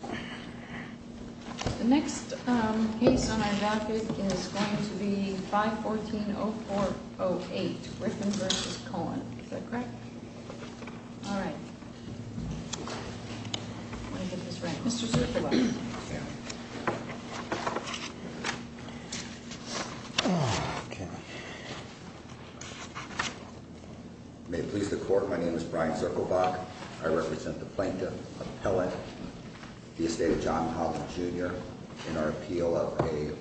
The next case on our docket is going to be 514-0408, Griffin v. Cohen. Is that correct? All right. I want to get this right. Mr. Zerkulak. May it please the Court, my name is Brian Zerkulak. I represent the Plaintiff Appellate, the estate of John Holland, Jr., in our appeal of an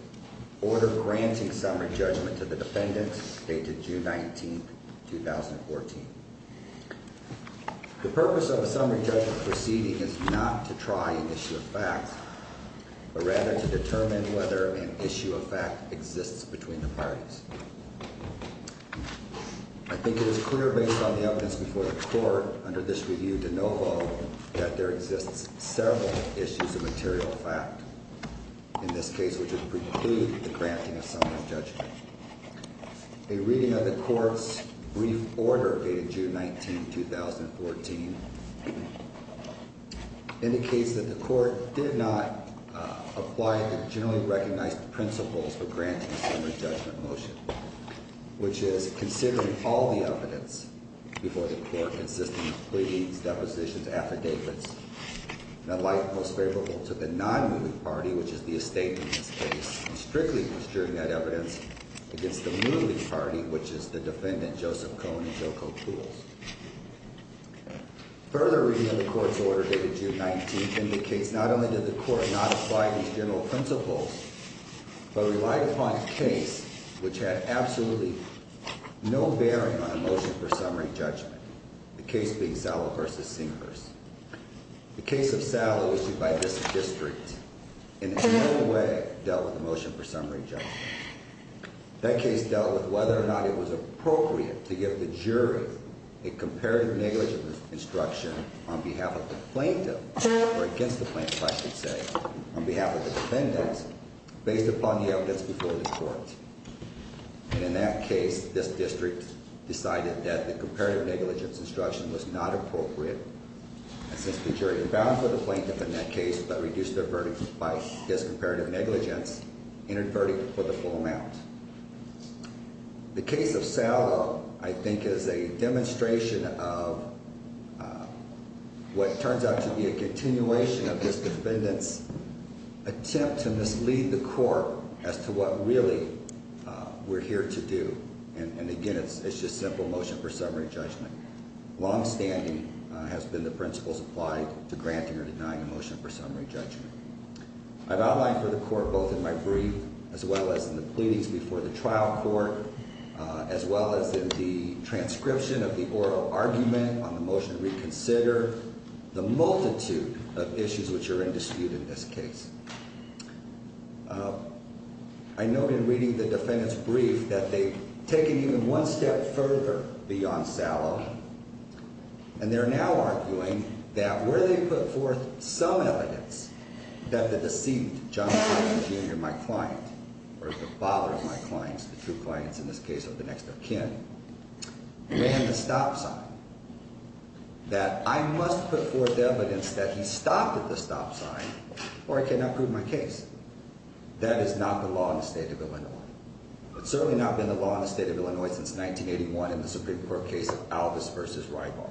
order granting summary judgment to the defendant, dated June 19, 2014. The purpose of a summary judgment proceeding is not to try an issue of fact, but rather to determine whether an issue of fact exists between the parties. I think it is clear based on the evidence before the Court under this review de novo that there exists several issues of material fact in this case which would preclude the granting of summary judgment. A reading of the Court's brief order dated June 19, 2014 indicates that the Court did not apply the generally recognized principles for granting a summary judgment motion, which is considering all the evidence before the Court consisting of pleadings, depositions, affidavits, the like most favorable to the non-moving party, which is the estate in this case, and strictly adjuring that evidence against the moving party, which is the defendant, Joseph Cohn, in Joko Poole's. A further reading of the Court's order dated June 19 indicates not only did the Court not apply these general principles, but relied upon a case which had absolutely no bearing on a motion for summary judgment, the case being Sallow v. Singers. The case of Sallow issued by this district in no way dealt with a motion for summary judgment. That case dealt with whether or not it was appropriate to give the jury a comparative negligence instruction on behalf of the plaintiff, or against the plaintiff, I should say, on behalf of the defendant based upon the evidence before the Court. And in that case, this district decided that the comparative negligence instruction was not appropriate, and since the jury abound for the plaintiff in that case, but reduced their verdict by discomparative negligence, entered verdict for the full amount. The case of Sallow, I think, is a demonstration of what turns out to be a continuation of this defendant's attempt to mislead the Court as to what really we're here to do. And again, it's just simple motion for summary judgment. Longstanding has been the principles applied to granting or denying a motion for summary judgment. I've outlined for the Court both in my brief, as well as in the pleadings before the trial court, as well as in the transcription of the oral argument on the motion to reconsider, the multitude of issues which are in dispute in this case. I note in reading the defendant's testimony that they're moving one step further beyond Sallow, and they're now arguing that where they put forth some evidence that the deceit, John Sullivan Jr., my client, or the father of my clients, the two clients in this case, or the next of kin, ran the stop sign, that I must put forth evidence that he stopped at the stop sign, or I cannot prove my case. That is not the law in the state of Illinois. It's certainly not been the law in the state of Illinois since 1981 in the Supreme Court case of Alvis v. Rybar.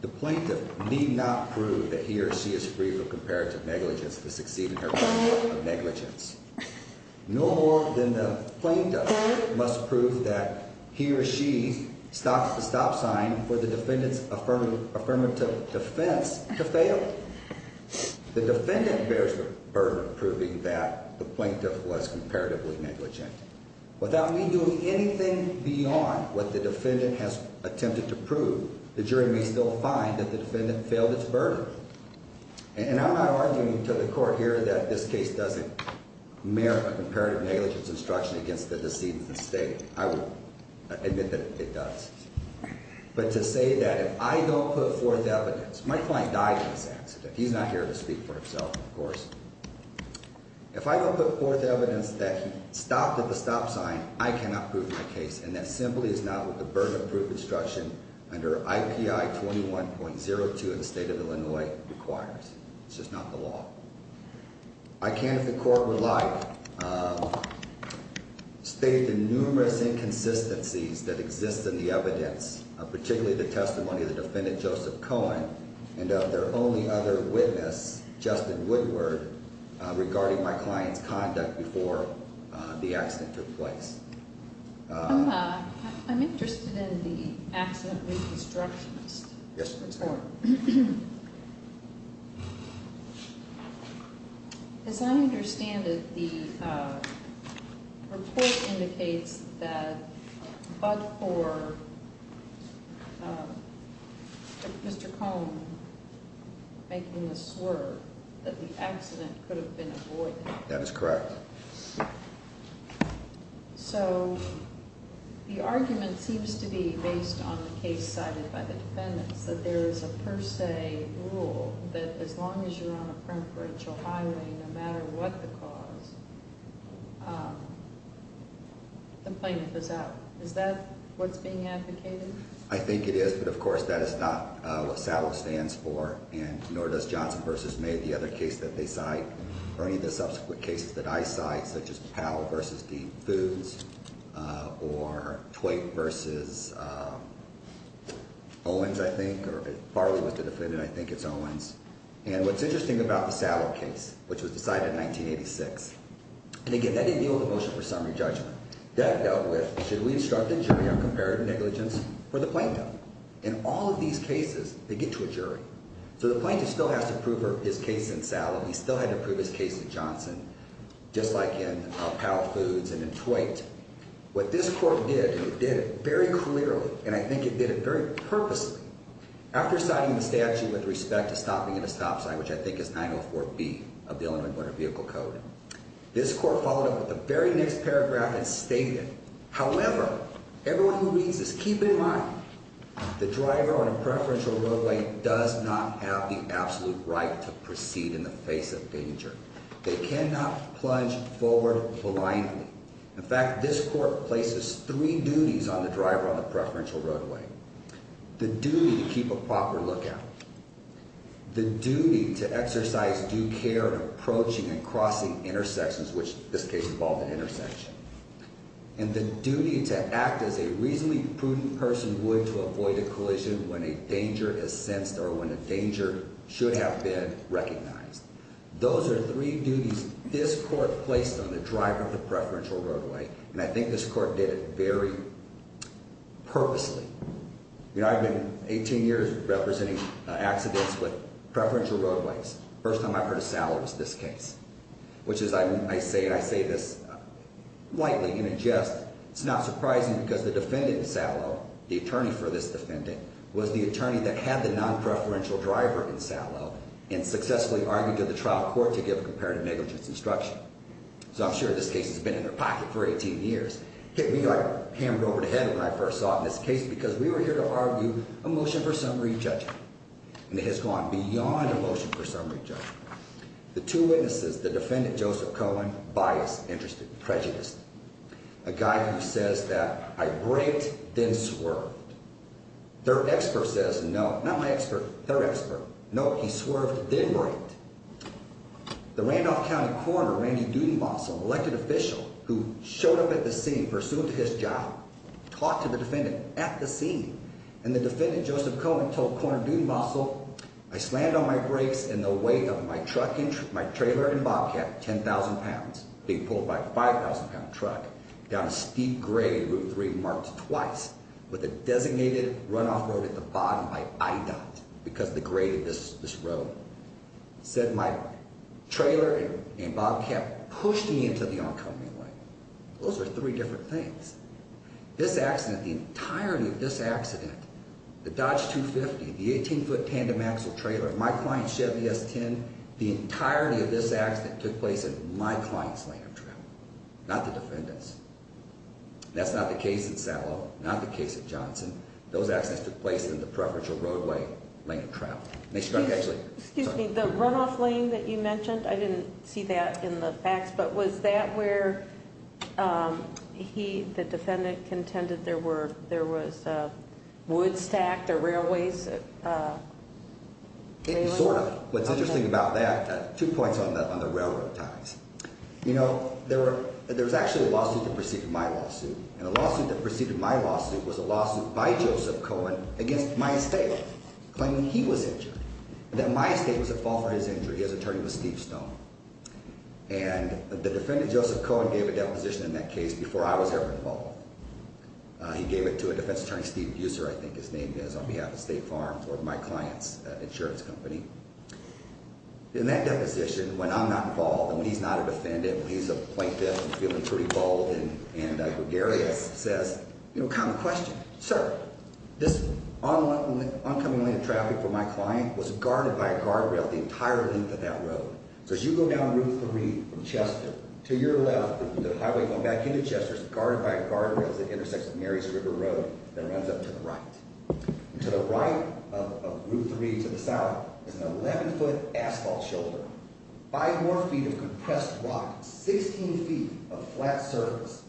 The plaintiff need not prove that he or she is free from comparative negligence to succeed in her court of negligence. No more than the plaintiff must prove that he or she stopped at the stop sign for the plaintiff was comparatively negligent. Without me doing anything beyond what the defendant has attempted to prove, the jury may still find that the defendant failed its burden. And I'm not arguing to the court here that this case doesn't merit a comparative negligence instruction against the deceit of the state. I would admit that it does. But to say that if I don't put forth evidence, my client died in this accident. He's not here to speak for me, of course. If I don't put forth evidence that he stopped at the stop sign, I cannot prove my case. And that simply is not what the burden of proof instruction under IPI 21.02 in the state of Illinois requires. It's just not the law. I can, if the court would like, state the numerous inconsistencies that exist in the evidence, particularly the testimony of the defendant, Joseph Cohen, and of their only other witness, Justin Woodward, regarding my client's conduct before the accident took place. I'm interested in the accident reconstruction list. Yes, ma'am. As I understand it, the report indicates that but for Mr. Cohen making the swerve, that the accident could have been avoided. That is correct. So the argument seems to be based on the case cited by the defendants, that there is a per se rule that as long as you're on a preferential highway, no matter what the cause, the plaintiff is out. Is that what's being advocated? I think it is. But of course, that is not what SALUT stands for, and nor does Johnson v. May, the other case that they cite, or any of the subsequent cases that I cite, such as Powell v. Deeds Foods, or Twait v. Owens, I think, or if it partly was the defendant, I think it's Owens. And what's interesting about the SALUT case, which was decided in 1986, and again, that didn't deal with the motion for summary judgment. That dealt with, should we instruct the jury on comparative negligence for the plaintiff? In all of these cases, they get to a jury. So the plaintiff still has to prove his case in SALUT. He still had to prove his case in Johnson, just like in Powell Foods and in Twait. What this court did, and it did it very clearly, and I think it did it very purposely, after citing the statute with respect to stopping at a stop sign, which I think is 904B of the Illinois Motor Vehicle Code, this court followed up with the very next paragraph and stated, however, everyone who reads this, keep in mind, the driver on a preferential roadway does not have the absolute right to proceed in the face of danger. They cannot plunge forward blindly. In fact, this court places three duties on the driver on the preferential roadway. The duty to keep a proper lookout. The duty to exercise due care in approaching and crossing intersections, which in this case involved an intersection. And the duty to act as a reasonably prudent person would to avoid a collision when a danger is sensed or when a danger should have been recognized. Those are three duties this court placed on the driver of the preferential roadway, and I think this court did it very purposely. You know, I've been 18 years representing accidents with preferential roadways. First time I've heard of Sallow was this case, which is, I say this lightly in a jest, it's not surprising because the defendant in Sallow, the attorney for this defendant, was the attorney that had the non-preferential driver in Sallow and successfully argued to the trial court to give a comparative negligence instruction. So I'm sure this case has been in their pocket for 18 years. It hit me like a hammer over the head when I first saw it in this case because we were here to argue a motion for summary judgment. And it has gone beyond a motion for summary judgment. The two witnesses, the defendant, Joseph Cohen, biased, interested, prejudiced. A guy who says that, I braked, then swerved. Their expert says, no, not my expert, their expert. No, he swerved, then braked. The Randolph County coroner, Randy Dudenbosel, elected official who showed up at the scene, pursued his job, talked to the defendant at the scene, and the defendant, Joseph Cohen, told coroner Dudenbosel, I slammed on my brakes and the weight of my truck, my trailer and bobcat, 10,000 pounds, being pulled by a 5,000-pound truck, down a steep grade Route 3 marked twice with a designated runoff road at the bottom by I-dot because of the grade of this road, said my trailer and bobcat pushed me into the oncoming lane. Those are three different things. This accident, the entirety of this accident, the Dodge 250, the 18-foot tandem axle trailer, my client's Chevy S10, the entirety of this accident took place in my client's lane of travel, not the defendant's. That's not the case at Sallow, not the case at Johnson. Those accidents took place in the preferential roadway lane of travel. Excuse me, the runoff lane that you mentioned, I didn't see that in the facts, but was that where he, the defendant, contended there was wood stacked or railways? Sort of. What's interesting about that, two points on the railroad ties. You know, there was actually a lawsuit that preceded my lawsuit, and the lawsuit that preceded my lawsuit was a lawsuit by Joseph Cohen against my estate, claiming he was injured, that my estate was at fault for his injury. His attorney was Steve Stone. And the defendant, Joseph Cohen, gave a deposition in that case before I was ever involved. He gave it to a defense attorney, Steve Buser, I think his name is, on behalf of State Farm for my client's insurance company. In that deposition, when I'm not involved and he's not a defendant, he's a plaintiff and feeling pretty bald and gregarious, says, you know, common question, sir, this oncoming lane of traffic for my client was guarded by a guardrail the entire length of that road. So as you go down Route 3 from Chester to your left, the highway going back into Chester is guarded by a guardrail that intersects with Mary's River Road and runs up to the right. And to the right of Route 3 to the south is an 11-foot asphalt shoulder, five more feet of compressed rock, 16 feet of flat surface.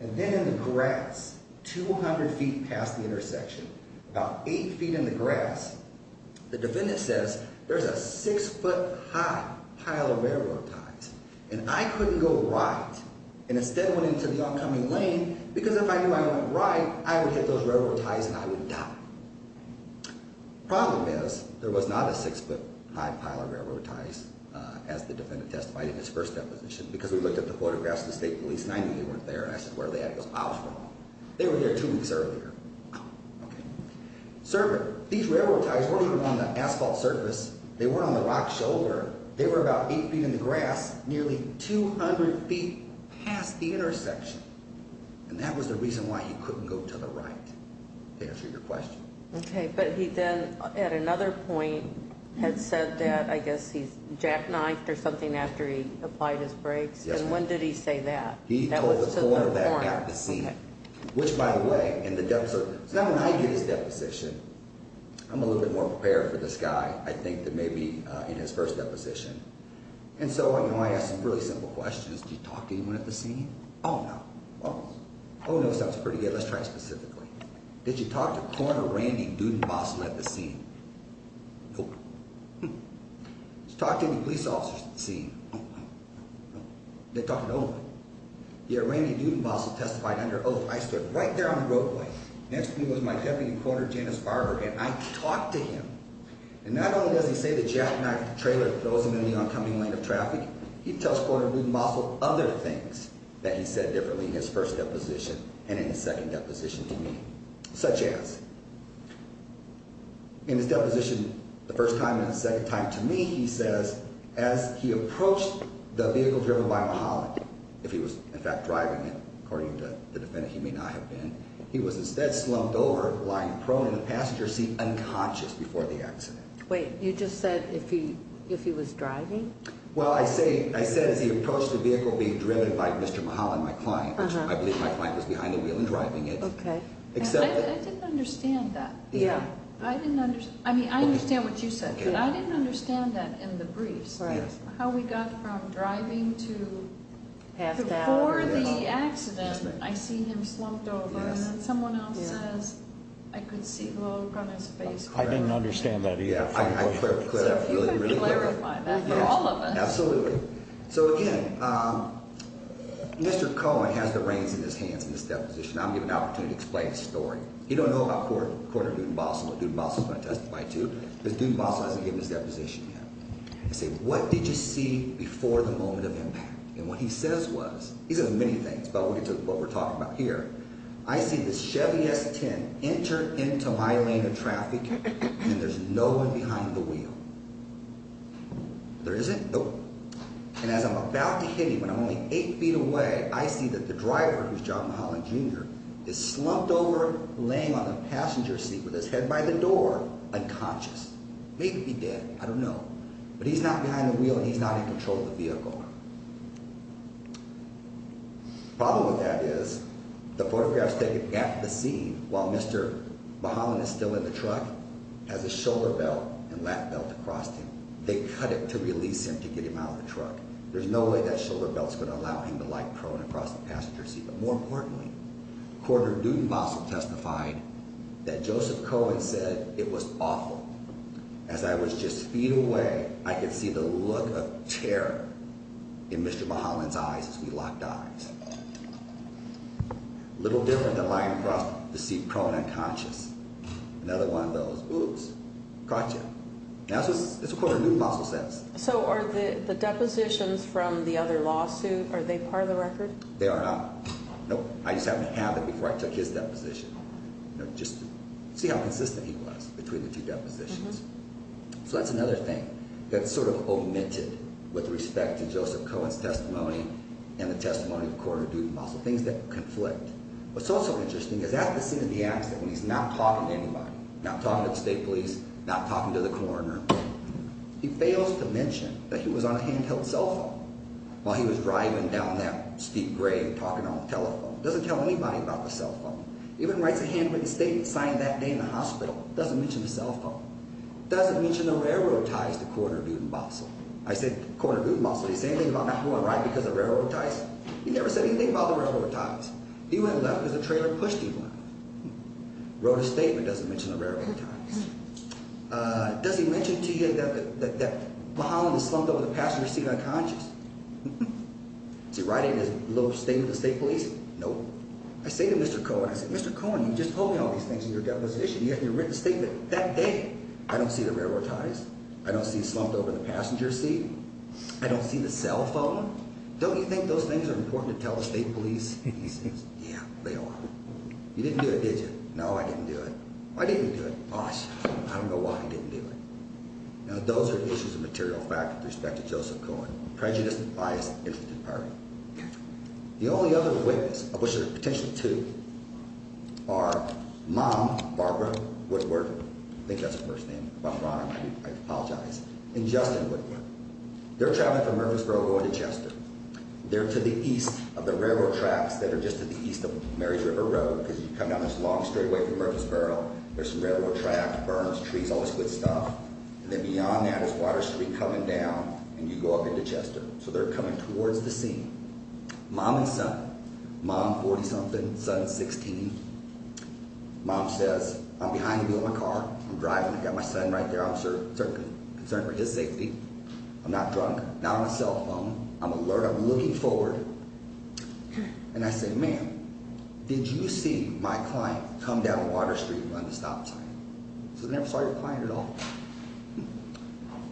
And then in the grass, 200 feet past the intersection, about eight feet in the grass, the defendant says, there's a six-foot-high pile of railroad ties. And I couldn't go right and instead went into the oncoming lane because if I knew I wouldn't ride, I would hit those railroad ties and I would die. Problem is, there was not a six-foot-high pile of railroad ties, as the defendant testified in his first deposition, because we looked at the photographs of the State Police, 90 of them weren't there, and I said, where are they at? It was miles from them. They were there two weeks earlier. These railroad ties weren't on the asphalt surface, they weren't on the rock shoulder, they were about eight feet in the grass, nearly 200 feet past the intersection. And that was the reason why he couldn't go to the right, to answer your question. Okay, but he then, at another point, had said that I guess he jackknifed or something after he applied his brakes. Yes, ma'am. And when did he say that? He told the cornerback at the scene. Which, by the way, in the deposition, so now when I get his deposition, I'm a little bit more prepared for this guy, I think, than maybe in his first deposition. And so, you know, I ask some really simple questions. Did you talk to anyone at the scene? Oh, no. Oh, no, sounds pretty good. Let's try it specifically. Did you talk to Corner Randy Dudenbosel at the scene? Nope. Hmm. Did you talk to any police officers at the scene? No, no, no, no. They talked to no one. Yeah, Randy Dudenbosel testified under oath. I stood right there on the roadway. Next to me was my deputy, Corner Janice Barber, and I talked to him. And not only does he say the jackknifed trailer that throws him in the oncoming lane of traffic, he tells Corner Dudenbosel other things that he said differently in his first deposition and in his second deposition to me, such as, in his deposition the first time and the second time to me, he says, as he approached the vehicle driven by Mahalan, if he was, in fact, driving it, according to the defendant, he may not have been, he was instead slumped over, lying prone in the passenger seat, unconscious before the accident. Wait, you just said if he was driving? Well, I said as he approached the vehicle being driven by Mr. Mahalan, my client, which I believe my client was behind the wheel and driving it. Okay. I didn't understand that. Yeah. I didn't understand. I mean, I understand what you said. But I didn't understand that in the briefs. Yes. How we got from driving to before the accident, I see him slumped over. Yes. And then someone else says, I could see the look on his face. I didn't understand that either. I think I can clarify that for all of us. Absolutely. So, again, Mr. Cohen has the reins in his hands in this deposition. I'm going to give an opportunity to explain the story. You don't know about Corner Dudenbosel or what Dudenbosel is going to testify to. But Dudenbosel hasn't given his deposition yet. I say, what did you see before the moment of impact? And what he says was, he says many things, but we'll get to what we're talking about here. I see the Chevy S10 enter into my lane of traffic and there's no one behind the wheel. There isn't? Nope. And as I'm about to hit him and I'm only eight feet away, I see that the driver, who's John Mahalan, Jr., is slumped over, laying on a passenger seat with his head by the door, unconscious. Maybe dead. I don't know. But he's not behind the wheel and he's not in control of the vehicle. The problem with that is, the photographs taken at the scene, while Mr. Mahalan is still in the truck, has a shoulder belt and lap belt across him. They cut it to release him to get him out of the truck. There's no way that shoulder belt's going to allow him to lie prone across the passenger seat. But more importantly, Court of Dudenbosel testified that Joseph Cohen said it was awful. As I was just feet away, I could see the look of terror in Mr. Mahalan's eyes as we locked eyes. Little different than lying prone, the seat prone, unconscious. Another one of those, oops, caught you. That's what the Court of Dudenbosel says. So are the depositions from the other lawsuit, are they part of the record? They are not. Nope, I just haven't had them before I took his deposition. Just to see how consistent he was between the two depositions. So that's another thing that's sort of omitted with respect to Joseph Cohen's testimony and the testimony of the Court of Dudenbosel, things that conflict. What's also interesting is at the scene of the accident, when he's not talking to anybody, not talking to the state police, not talking to the coroner, he fails to mention that he was on a handheld cell phone while he was driving down that steep grave talking on the telephone. Doesn't tell anybody about the cell phone. Even writes a handwritten statement signed that day in the hospital. Doesn't mention the cell phone. Doesn't mention the railroad ties to Court of Dudenbosel. I said, Court of Dudenbosel, did he say anything about not being able to ride because of railroad ties? He never said anything about the railroad ties. He went left because the trailer pushed him left. Wrote a statement, doesn't mention the railroad ties. Does he mention to you that Mulholland is slumped over the passenger seat unconscious? Is he writing this little statement to the state police? Nope. I say to Mr. Cohen, I say, Mr. Cohen, you're just holding all these things in your deposition. You haven't even written a statement. That day, I don't see the railroad ties. I don't see slumped over the passenger seat. I don't see the cell phone. Don't you think those things are important to tell the state police? He says, yeah, they are. You didn't do it, did you? No, I didn't do it. I didn't do it. Gosh, I don't know why I didn't do it. Now, those are issues of material fact with respect to Joseph Cohen. Prejudice, bias, interest in party. The only other witness, of which there are potentially two, are Mom, Barbara Woodward, I think that's her first name, I apologize, and Justin Woodward. They're traveling from Murfreesboro going to Chester. They're to the east of the railroad tracks that are just to the east of Mary's River Road because you come down this long straight way from Murfreesboro. There's some railroad tracks, berms, trees, all this good stuff. And then beyond that is Water Street coming down, and you go up into Chester. So they're coming towards the scene. Mom and son. Mom 40-something, son 16. Mom says, I'm behind you in my car. I'm driving. I've got my son right there. I'm concerned for his safety. I'm not drunk. Not on a cell phone. I'm alert. I'm looking forward. And I say, ma'am, did you see my client come down Water Street and run the stop sign? She says, I never saw your client at all.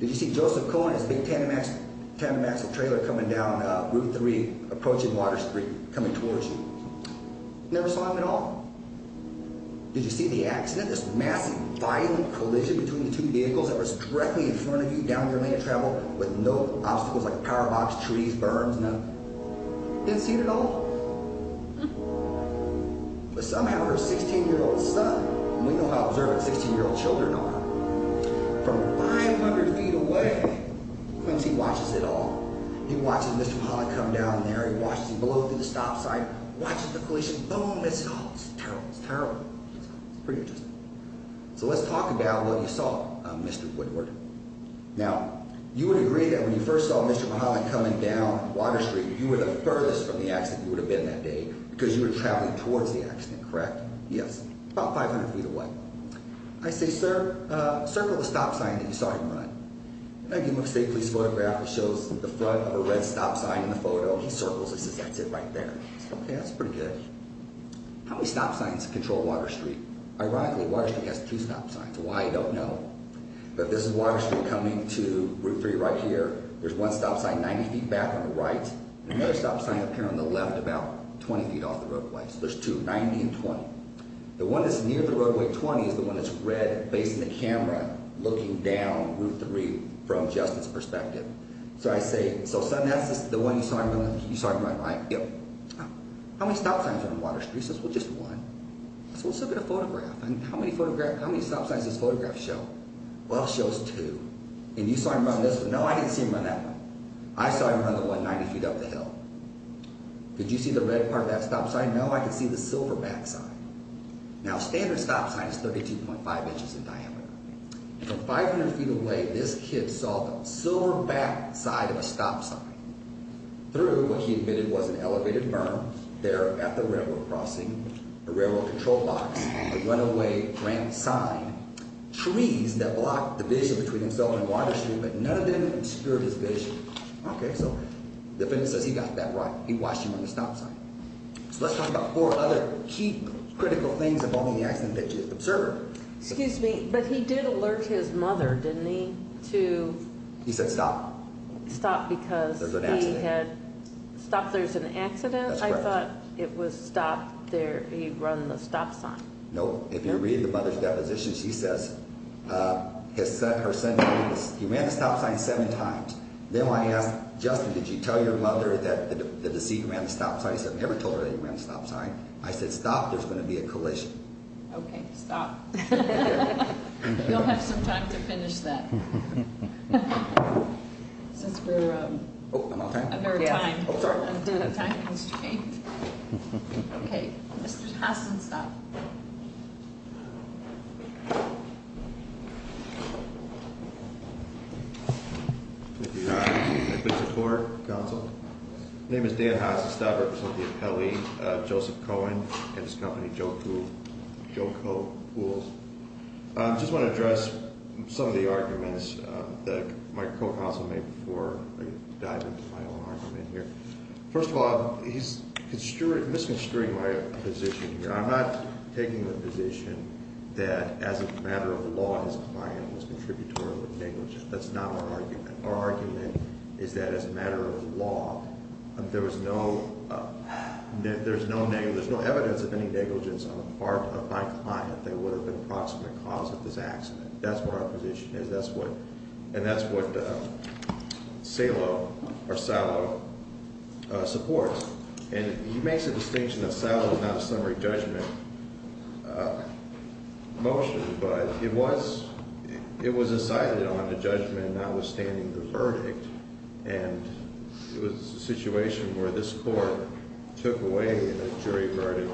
Did you see Joseph Cohen in his big tandem axle trailer coming down Route 3, approaching Water Street, coming towards you? Never saw him at all. Did you see the accident, this massive, violent collision between the two vehicles with no obstacles like a power box, trees, berms? No? Didn't see it at all? But somehow her 16-year-old son, and we know how observant 16-year-old children are, from 500 feet away, Quincy watches it all. He watches Mr. Pollack come down there. He watches him blow through the stop sign. Watches the collision. Boom, it's all. It's terrible. It's terrible. It's pretty interesting. So let's talk about what you saw, Mr. Woodward. Now, you would agree that when you first saw Mr. Pollack coming down Water Street, you were the furthest from the accident you would have been that day because you were traveling towards the accident, correct? Yes. About 500 feet away. I say, sir, circle the stop sign that you saw him run. I give him a state police photograph that shows the front of a red stop sign in the photo. He circles it. He says, that's it right there. I say, okay, that's pretty good. How many stop signs control Water Street? Ironically, Water Street has two stop signs. Why, I don't know. But this is Water Street coming to Route 3 right here. There's one stop sign 90 feet back on the right and another stop sign up here on the left about 20 feet off the roadway. So there's two, 90 and 20. The one that's near the roadway, 20, is the one that's red based on the camera looking down Route 3 from just its perspective. So I say, so son, that's the one you saw him run, right? Yep. How many stop signs on Water Street? He says, well, just one. So let's look at a photograph. How many stop signs does this photograph show? Well, it shows two. And you saw him run this one. No, I didn't see him run that one. I saw him run the one 90 feet up the hill. Did you see the red part of that stop sign? No, I could see the silver back side. Now, a standard stop sign is 32.5 inches in diameter. From 500 feet away, this kid saw the silver back side of a stop sign through what he admitted was an elevated berm there at the railroad crossing, a railroad control box, a runaway ramp sign, trees that blocked the vision between himself and Water Street, but none of them obscured his vision. Okay, so the witness says he got that right. He watched him on the stop sign. So let's talk about four other key critical things involving the accident that you observed. Excuse me, but he did alert his mother, didn't he, to... He said stop. Stop because he had... There was an accident. Stopped, there's an accident? That's correct. I thought it was stopped there, he'd run the stop sign. No, if you read the mother's deposition, she says her son, he ran the stop sign seven times. Then when I asked Justin, did you tell your mother that the deceased ran the stop sign, he said I never told her that he ran the stop sign. I said stop, there's going to be a collision. Okay, stop. You'll have some time to finish that. Since we're... Oh, I'm out of time? I'm out of time. I'm sorry. I'm doing a time constraint. Okay, Mr. Hasenstab. Thank you, Your Honor. I beg your support, counsel. My name is Dan Hasenstab, representing the appellee, Joseph Cohen, and his company, Joko Pools. I just want to address some of the arguments that my co-counsel made before I dive into my own argument here. First of all, he's misconstruing my position here. I'm not taking the position that as a matter of law, his client was contributory with negligence. That's not our argument. Our argument is that as a matter of law, there's no evidence of any negligence on the part of my client that would have been a proximate cause of this accident. That's what our position is. And that's what Salo supports. And he makes a distinction that Salo is not a summary judgment motion, but it was decided on the judgment notwithstanding the verdict, and it was a situation where this court took away a jury verdict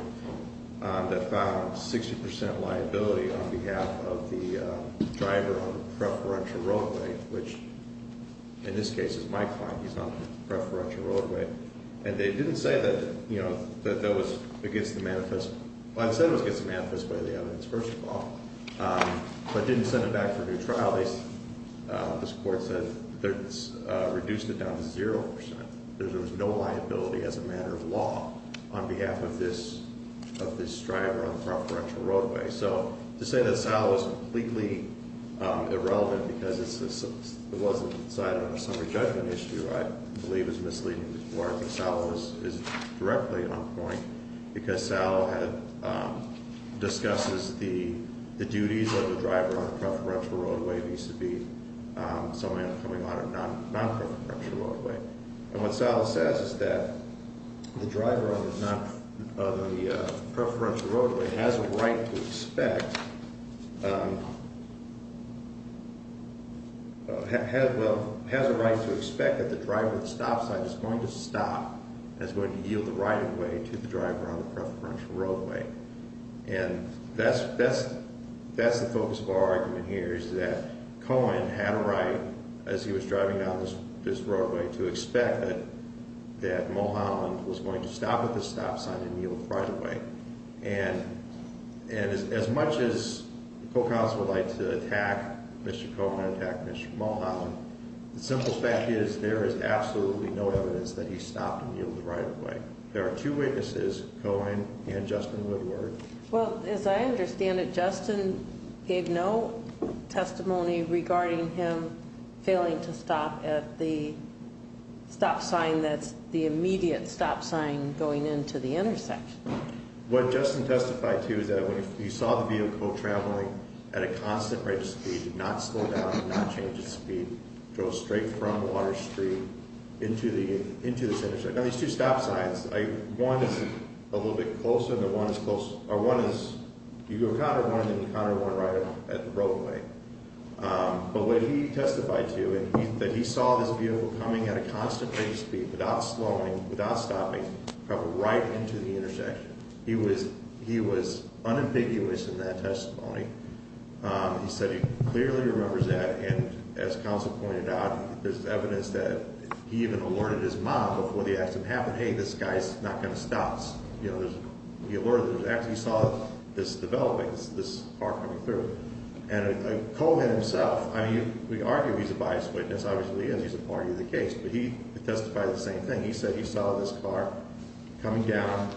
that found 60% liability on behalf of the driver on the preferential roadway, which in this case is my client. He's on the preferential roadway. And they didn't say that that was against the manifest way. Well, it said it was against the manifest way of the evidence, first of all, but didn't send it back for a new trial. This court said they reduced it down to 0%. There was no liability as a matter of law on behalf of this driver on the preferential roadway. So to say that Salo is completely irrelevant because it wasn't decided on a summary judgment issue I believe is misleading. I think Salo is directly on point because Salo discusses the duties of the driver on the preferential roadway vis-a-vis someone coming on a non-preferential roadway. And what Salo says is that the driver on the preferential roadway has a right to expect that the driver at the stop sign is going to stop and is going to yield the right-of-way to the driver on the preferential roadway. And that's the focus of our argument here is that Cohen had a right, as he was driving down this roadway, to expect that Mulholland was going to stop at the stop sign and yield the right-of-way. And as much as the co-counsel would like to attack Mr. Cohen, attack Mr. Mulholland, the simple fact is there is absolutely no evidence that he stopped and yielded the right-of-way. There are two witnesses, Cohen and Justin Woodward. Well, as I understand it, Justin gave no testimony regarding him failing to stop at the stop sign that's the immediate stop sign going into the intersection. What Justin testified to is that when he saw the vehicle traveling at a constant rate of speed, did not slow down, did not change its speed, drove straight from Water Street into this intersection. Now, these two stop signs, one is a little bit closer and the one is closer, or one is you go counter one and then you counter one right at the roadway. But what he testified to is that he saw this vehicle coming at a constant rate of speed without slowing, without stopping, probably right into the intersection. He was unambiguous in that testimony. He said he clearly remembers that, and as counsel pointed out, there's evidence that he even alerted his mom before the accident happened, hey, this guy's not going to stop. You know, he alerted her after he saw this developing, this car coming through. And Cohen himself, I mean, we argue he's a biased witness, obviously, as he's a party to the case, but he testified the same thing. He said he saw this car coming down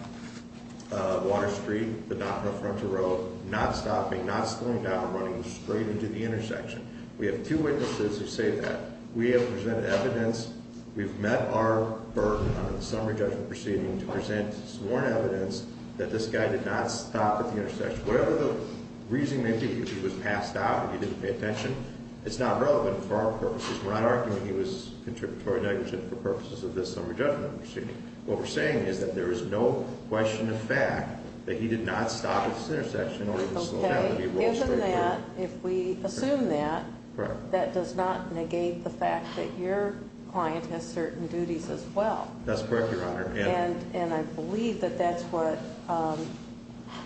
Water Street, but not on a frontal road, not stopping, not slowing down, running straight into the intersection. We have two witnesses who say that. We have presented evidence. We've met our burden under the summary judgment proceeding to present sworn evidence that this guy did not stop at the intersection. Whatever the reasoning may be, if he was passed out, if he didn't pay attention, it's not relevant for our purposes. We're not arguing he was contributory negligent for purposes of this summary judgment proceeding. What we're saying is that there is no question of fact that he did not stop at this intersection Okay, given that, if we assume that, that does not negate the fact that your client has certain duties as well. That's correct, Your Honor. And I believe that that's what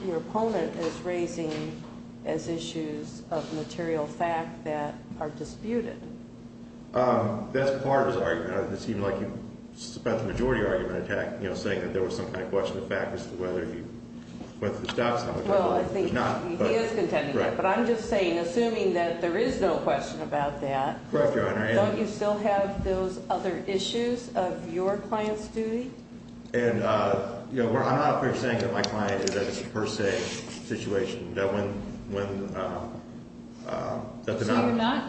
your opponent is raising as issues of material fact that are disputed. That's part of the argument. It seemed like you spent the majority of your argument saying that there was some kind of question of fact Well, I think he is contending that. But I'm just saying, assuming that there is no question about that, don't you still have those other issues of your client's duty? I'm not saying that my client is a per se situation. So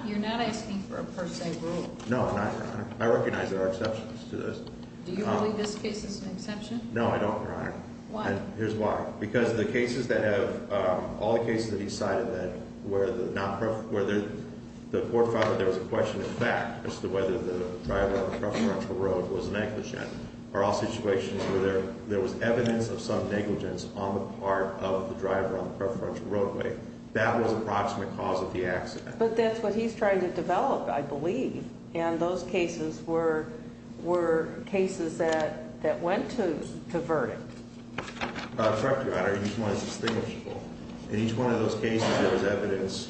you're not asking for a per se rule? No, I'm not, Your Honor. I recognize there are exceptions to this. Do you believe this case is an exception? No, I don't, Your Honor. Why? Here's why. Because the cases that have, all the cases that he cited where the court found that there was a question of fact as to whether the driver on the preferential road was negligent are all situations where there was evidence of some negligence on the part of the driver on the preferential roadway. That was an approximate cause of the accident. But that's what he's trying to develop, I believe. And those cases were cases that went to verdict. Correct, Your Honor. Each one is distinguishable. In each one of those cases, there was evidence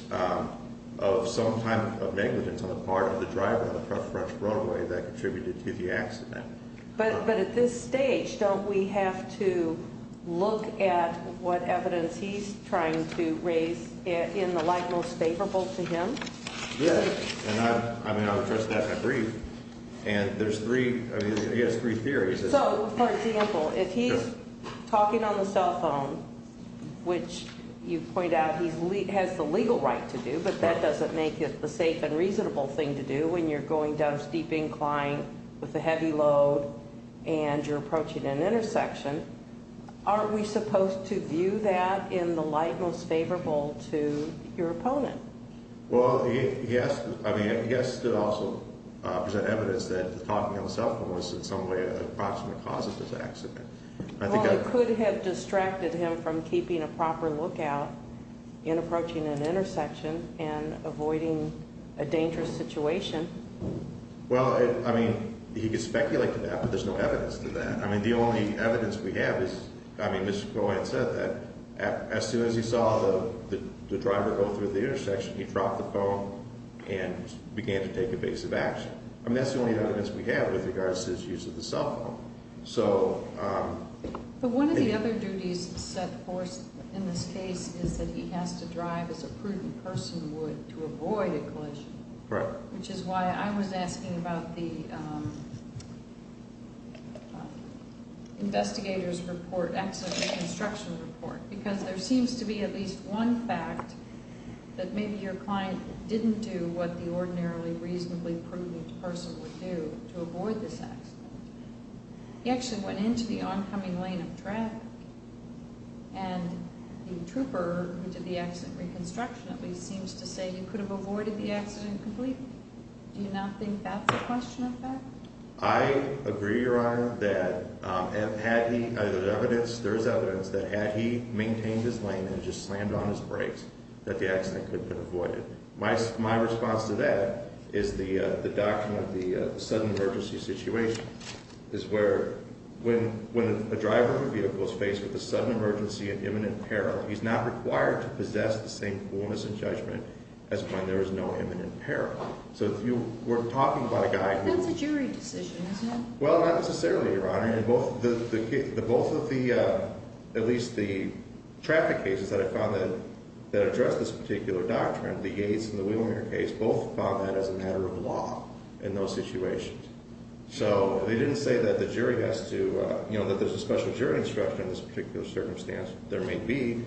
of some type of negligence on the part of the driver on the preferential roadway that contributed to the accident. But at this stage, don't we have to look at what evidence he's trying to raise in the light most favorable to him? Yes. And I mean, I'll address that in a brief. And there's three, I mean, he has three theories. So, for example, if he's talking on the cell phone, which you point out he has the legal right to do, but that doesn't make it the safe and reasonable thing to do when you're going down steep incline with a heavy load and you're approaching an intersection, aren't we supposed to view that in the light most favorable to your opponent? Well, I mean, he has to also present evidence that talking on the cell phone was in some way an approximate cause of this accident. Well, it could have distracted him from keeping a proper lookout in approaching an intersection and avoiding a dangerous situation. Well, I mean, he could speculate to that, but there's no evidence to that. I mean, the only evidence we have is, I mean, Mr. Cohen said that as soon as he saw the driver go through the intersection, he dropped the phone and began to take evasive action. I mean, that's the only evidence we have with regards to his use of the cell phone. But one of the other duties set forth in this case is that he has to drive as a prudent person would to avoid a collision. Correct. Which is why I was asking about the investigator's report, accident reconstruction report, because there seems to be at least one fact that maybe your client didn't do what the ordinarily reasonably prudent person would do to avoid this accident. He actually went into the oncoming lane of traffic, and the trooper who did the accident reconstruction at least seems to say he could have avoided the accident completely. Do you not think that's a question of fact? I agree, Your Honor, that there's evidence that had he maintained his lane and just slammed on his brakes, that the accident could have been avoided. My response to that is the doctrine of the sudden emergency situation, is where when a driver of a vehicle is faced with a sudden emergency and imminent peril, he's not required to possess the same fullness of judgment as when there is no imminent peril. So if you were talking about a guy who— That's a jury decision, isn't it? Well, not necessarily, Your Honor. Both of the—at least the traffic cases that I found that address this particular doctrine, the Yates and the Wheelmere case, both found that as a matter of law in those situations. So they didn't say that the jury has to—that there's a special jury instruction in this particular circumstance. There may be.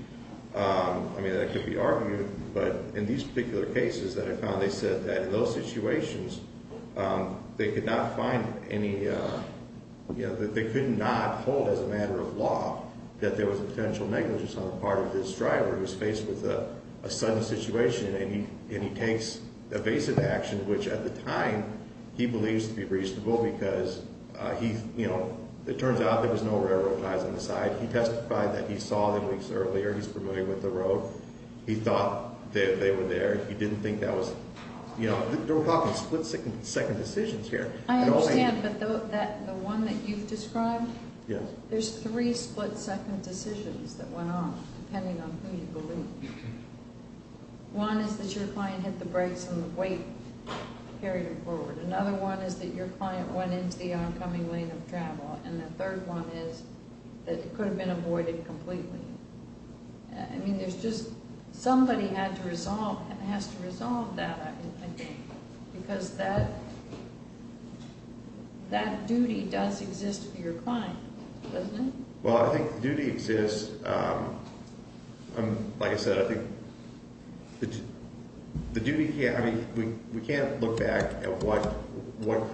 I mean, that could be argued, but in these particular cases that I found, they said that in those situations they could not find any—they could not hold as a matter of law that there was a potential negligence on the part of this driver who's faced with a sudden situation, and he takes evasive action, which at the time he believes to be reasonable because he— it turns out there was no railroad ties on the side. He testified that he saw them weeks earlier. He's familiar with the road. He thought that they were there. He didn't think that was—you know, we're talking split-second decisions here. I understand, but the one that you've described? Yes. There's three split-second decisions that went on, depending on who you believe. One is that your client hit the brakes and the weight carried him forward. Another one is that your client went into the oncoming lane of travel. And the third one is that it could have been avoided completely. I mean, there's just—somebody had to resolve and has to resolve that, I think, because that duty does exist for your client, doesn't it? Well, I think the duty exists. Like I said, I think the duty can't—I mean, we can't look back at what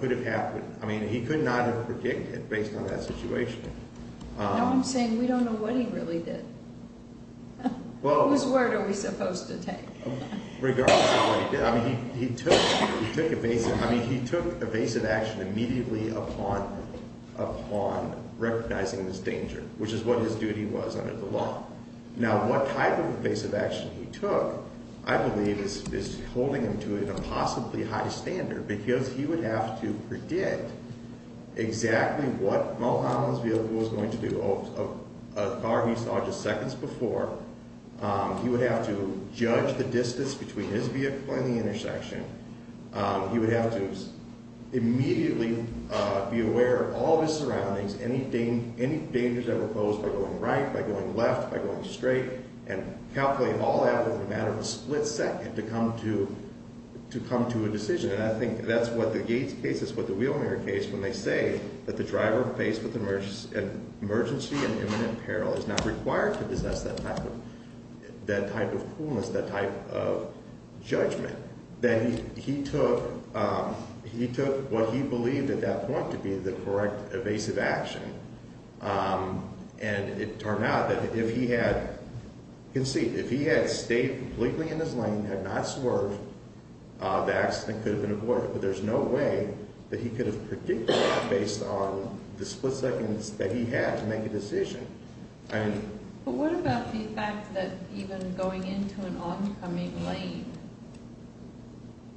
could have happened. I mean, he could not have predicted based on that situation. No, I'm saying we don't know what he really did. Whose word are we supposed to take? Regardless of what he did, I mean, he took evasive action immediately upon recognizing this danger, which is what his duty was under the law. Now, what type of evasive action he took, I believe, is holding him to a possibly high standard because he would have to predict exactly what Mulholland's vehicle was going to do, a car he saw just seconds before. He would have to judge the distance between his vehicle and the intersection. He would have to immediately be aware of all of his surroundings, any dangers that were posed by going right, by going left, by going straight, and calculate all that within a matter of a split second to come to a decision. And I think that's what the Gates case is, what the Wheelinger case, when they say that the driver faced with emergency and imminent peril is not required to possess that type of coolness, that type of judgment, that he took what he believed at that point to be the correct evasive action. And it turned out that if he had—you can see, if he had stayed completely in his lane, had not swerved, the accident could have been avoided. But there's no way that he could have predicted that based on the split seconds that he had to make a decision. But what about the fact that even going into an oncoming lane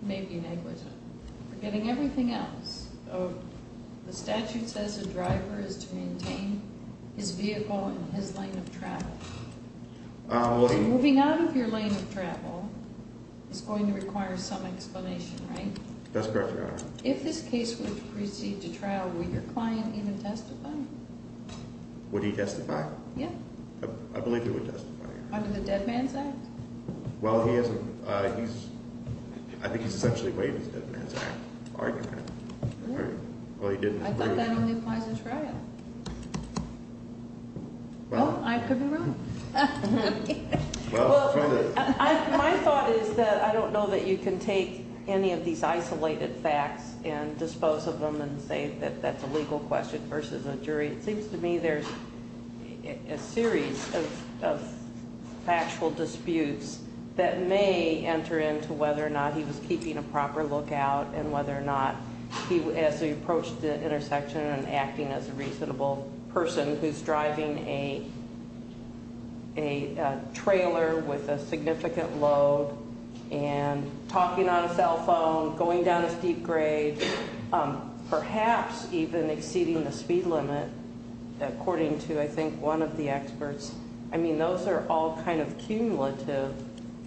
may be negligent, forgetting everything else? The statute says a driver is to maintain his vehicle in his lane of travel. Moving out of your lane of travel is going to require some explanation, right? That's correct, Your Honor. If this case were to proceed to trial, would your client even testify? Would he testify? Yeah. I believe he would testify. Under the Dead Man's Act? Well, he isn't—I think he's essentially waiving the Dead Man's Act argument. I thought that only applies to trial. Well, I could be wrong. Well, my thought is that I don't know that you can take any of these isolated facts and dispose of them and say that that's a legal question versus a jury. It seems to me there's a series of factual disputes that may enter into whether or not he was keeping a proper lookout and whether or not he, as he approached the intersection and acting as a reasonable person who's driving a trailer with a significant load and talking on a cell phone, going down a steep grade, perhaps even exceeding the speed limit, according to, I think, one of the experts. I mean, those are all kind of cumulative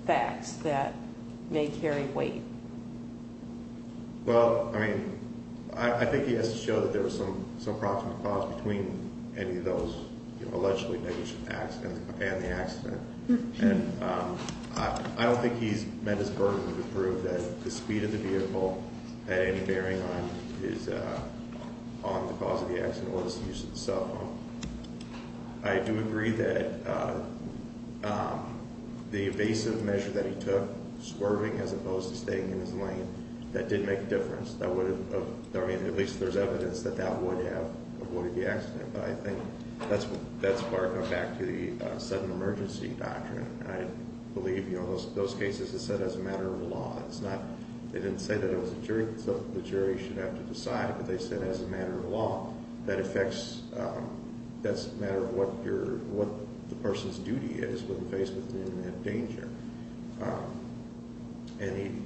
facts that may carry weight. Well, I mean, I think he has to show that there was some proximate cause between any of those allegedly negative facts and the accident. And I don't think he's met his burden to prove that the speed of the vehicle had any bearing on the cause of the accident or the use of the cell phone. I do agree that the evasive measure that he took, swerving as opposed to staying in his lane, that did make a difference. I mean, at least there's evidence that that would have avoided the accident. But I think that's where I come back to the sudden emergency doctrine. I believe those cases are set as a matter of law. They didn't say that it was a jury, so the jury should have to decide. But they said as a matter of law, that's a matter of what the person's duty is when faced with an imminent danger. And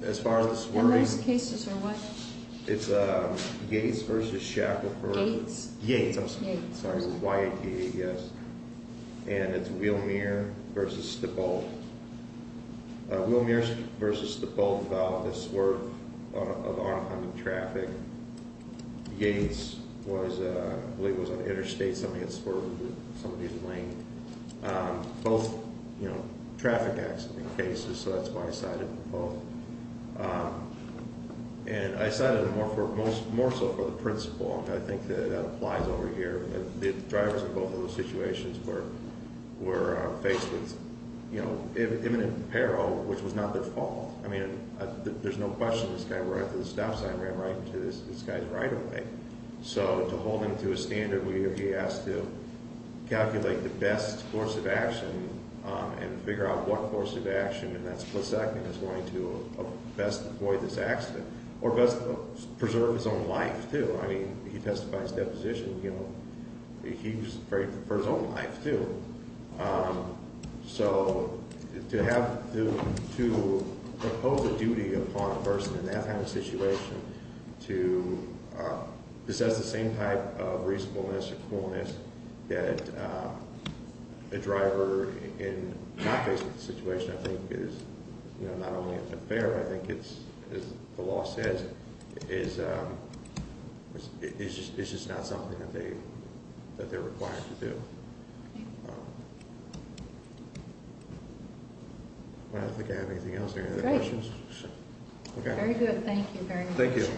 those cases are what? It's Gates v. Shackelford. Gates? Gates, I'm sorry. Y-A-T-A, yes. And it's Wilmere v. Stippold. Wilmere v. Stippold, this were of oncoming traffic. Gates was, I believe it was on the interstate, something that spurred some of these lanes. Both, you know, traffic accident cases, so that's why I cited them both. And I cited them more so for the principal. I think that applies over here. The drivers in both of those situations were faced with imminent peril, which was not their fault. I mean, there's no question this guy, right after the stop sign, ran right into this guy's right-of-way. So to hold him to a standard where he has to calculate the best course of action and figure out what course of action, and that's Plasek, is going to best avoid this accident, or best preserve his own life, too. I mean, he testified his deposition, you know, he was afraid for his own life, too. So to have to impose a duty upon a person in that kind of situation to assess the same type of reasonableness or coolness that a driver in not facing the situation I think is not only unfair, I think it's, as the law says, it's just not something that they're required to do. I don't think I have anything else. Are there any other questions? Very good. Thank you very much. Thank you.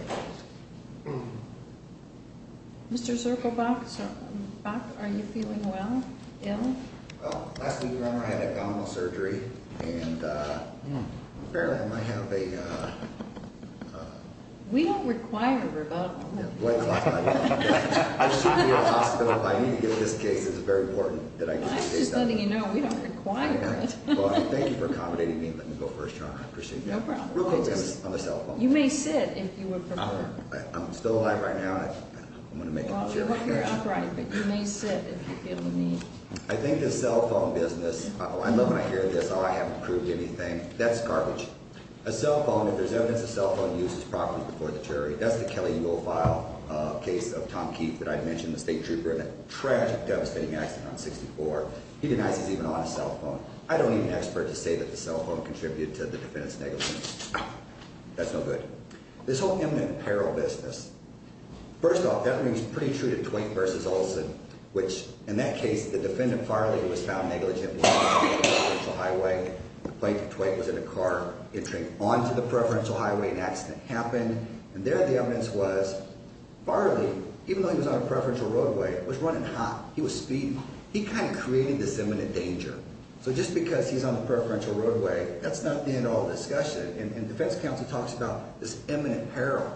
Mr. Zirkelbach, are you feeling well, ill? Well, last week, Your Honor, I had abdominal surgery, and apparently I might have a... We don't require rebuttal. I shouldn't be in a hospital. I need to get this case. It's very important that I get this case done. I'm just letting you know, we don't require it. Well, thank you for accommodating me. Let me go first, Your Honor. I appreciate that. No problem. You may sit if you would prefer. I'm still alive right now. I'm going to make a motion. You're upright, but you may sit if you feel the need. I think the cell phone business... I love when I hear this, oh, I haven't proved anything. That's garbage. A cell phone, if there's evidence a cell phone uses properly before the jury, that's the Kelly Eagle File case of Tom Keith that I mentioned, the state trooper in that tragic, devastating accident on 64. He denies he's even on a cell phone. I don't need an expert to say that the cell phone contributed to the defendant's negligence. That's no good. This whole eminent apparel business, first off, that rings pretty true to Twain v. Olsen, which, in that case, the defendant Farley was found negligent when he was speeding on the preferential highway. The plaintiff, Twain, was in a car entering onto the preferential highway. An accident happened. And there the evidence was Farley, even though he was on a preferential roadway, was running hot. He was speeding. He kind of created this eminent danger. So just because he's on the preferential roadway, that's not the end of all the discussion. And defense counsel talks about this eminent apparel.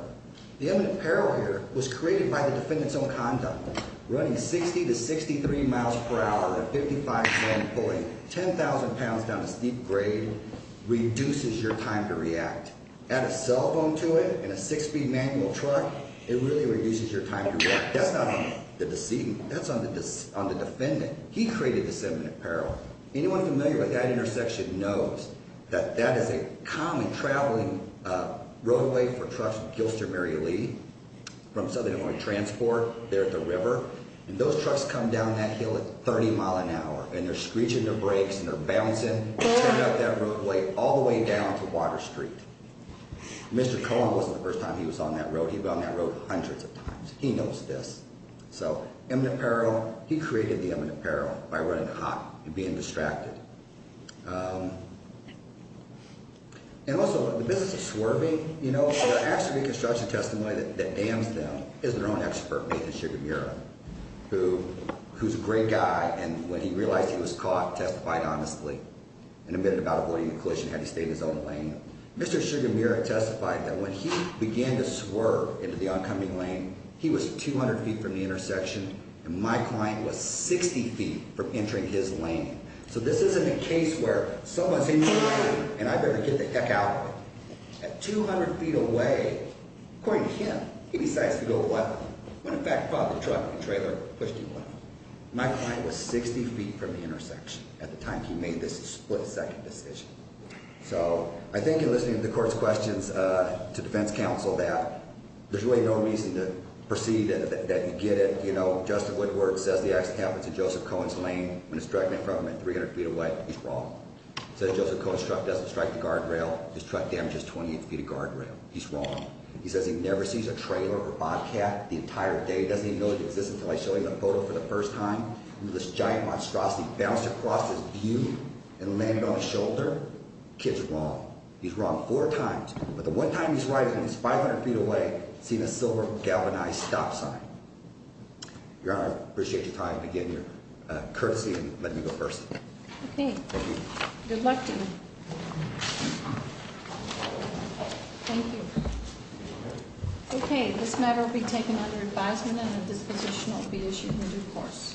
The eminent apparel here was created by the defendant's own conduct. Running 60 to 63 miles per hour at a 55-zone point, 10,000 pounds down a steep grade, reduces your time to react. Add a cell phone to it and a six-speed manual truck, it really reduces your time to react. That's not on the decedent. That's on the defendant. He created this eminent apparel. Anyone familiar with that intersection knows that that is a common traveling roadway for trucks with Gilster Mary Lee from Southern Illinois Transport. They're at the river. And those trucks come down that hill at 30 miles an hour, and they're screeching their brakes and they're bouncing, turning up that roadway all the way down to Water Street. Mr. Cohen wasn't the first time he was on that road. He was on that road hundreds of times. He knows this. So eminent apparel, he created the eminent apparel by running hot and being distracted. And also, the business of swerving, you know, the actual reconstruction testimony that damns them is their own expert, Nathan Sugamira, who's a great guy, and when he realized he was caught, testified honestly and admitted about avoiding a collision and had to stay in his own lane. Mr. Sugamira testified that when he began to swerve into the oncoming lane, he was 200 feet from the intersection, and my client was 60 feet from entering his lane. So this isn't a case where someone's in your lane and I better get the heck out of it. At 200 feet away, according to him, he decides to go left. When, in fact, a truck and trailer pushed him left. My client was 60 feet from the intersection at the time he made this split-second decision. So I think in listening to the court's questions to defense counsel that there's really no reason to perceive that you get it, you know, My client, Justin Woodward, says the accident happened to Joseph Cohen's lane when it struck him at 300 feet away. He's wrong. He says Joseph Cohen's truck doesn't strike the guardrail. His truck damages 28 feet of guardrail. He's wrong. He says he never sees a trailer or Bobcat the entire day. He doesn't even know it exists until I show him the photo for the first time. This giant monstrosity bounced across his view and landed on his shoulder. Kid's wrong. He's wrong four times, but the one time he's right is when he's 500 feet away seeing a silver galvanized stop sign. Your Honor, I appreciate your time again, your courtesy, and letting me go first. Okay. Thank you. Good luck to you. Thank you. Okay, this matter will be taken under advisement and a disposition will be issued in due course.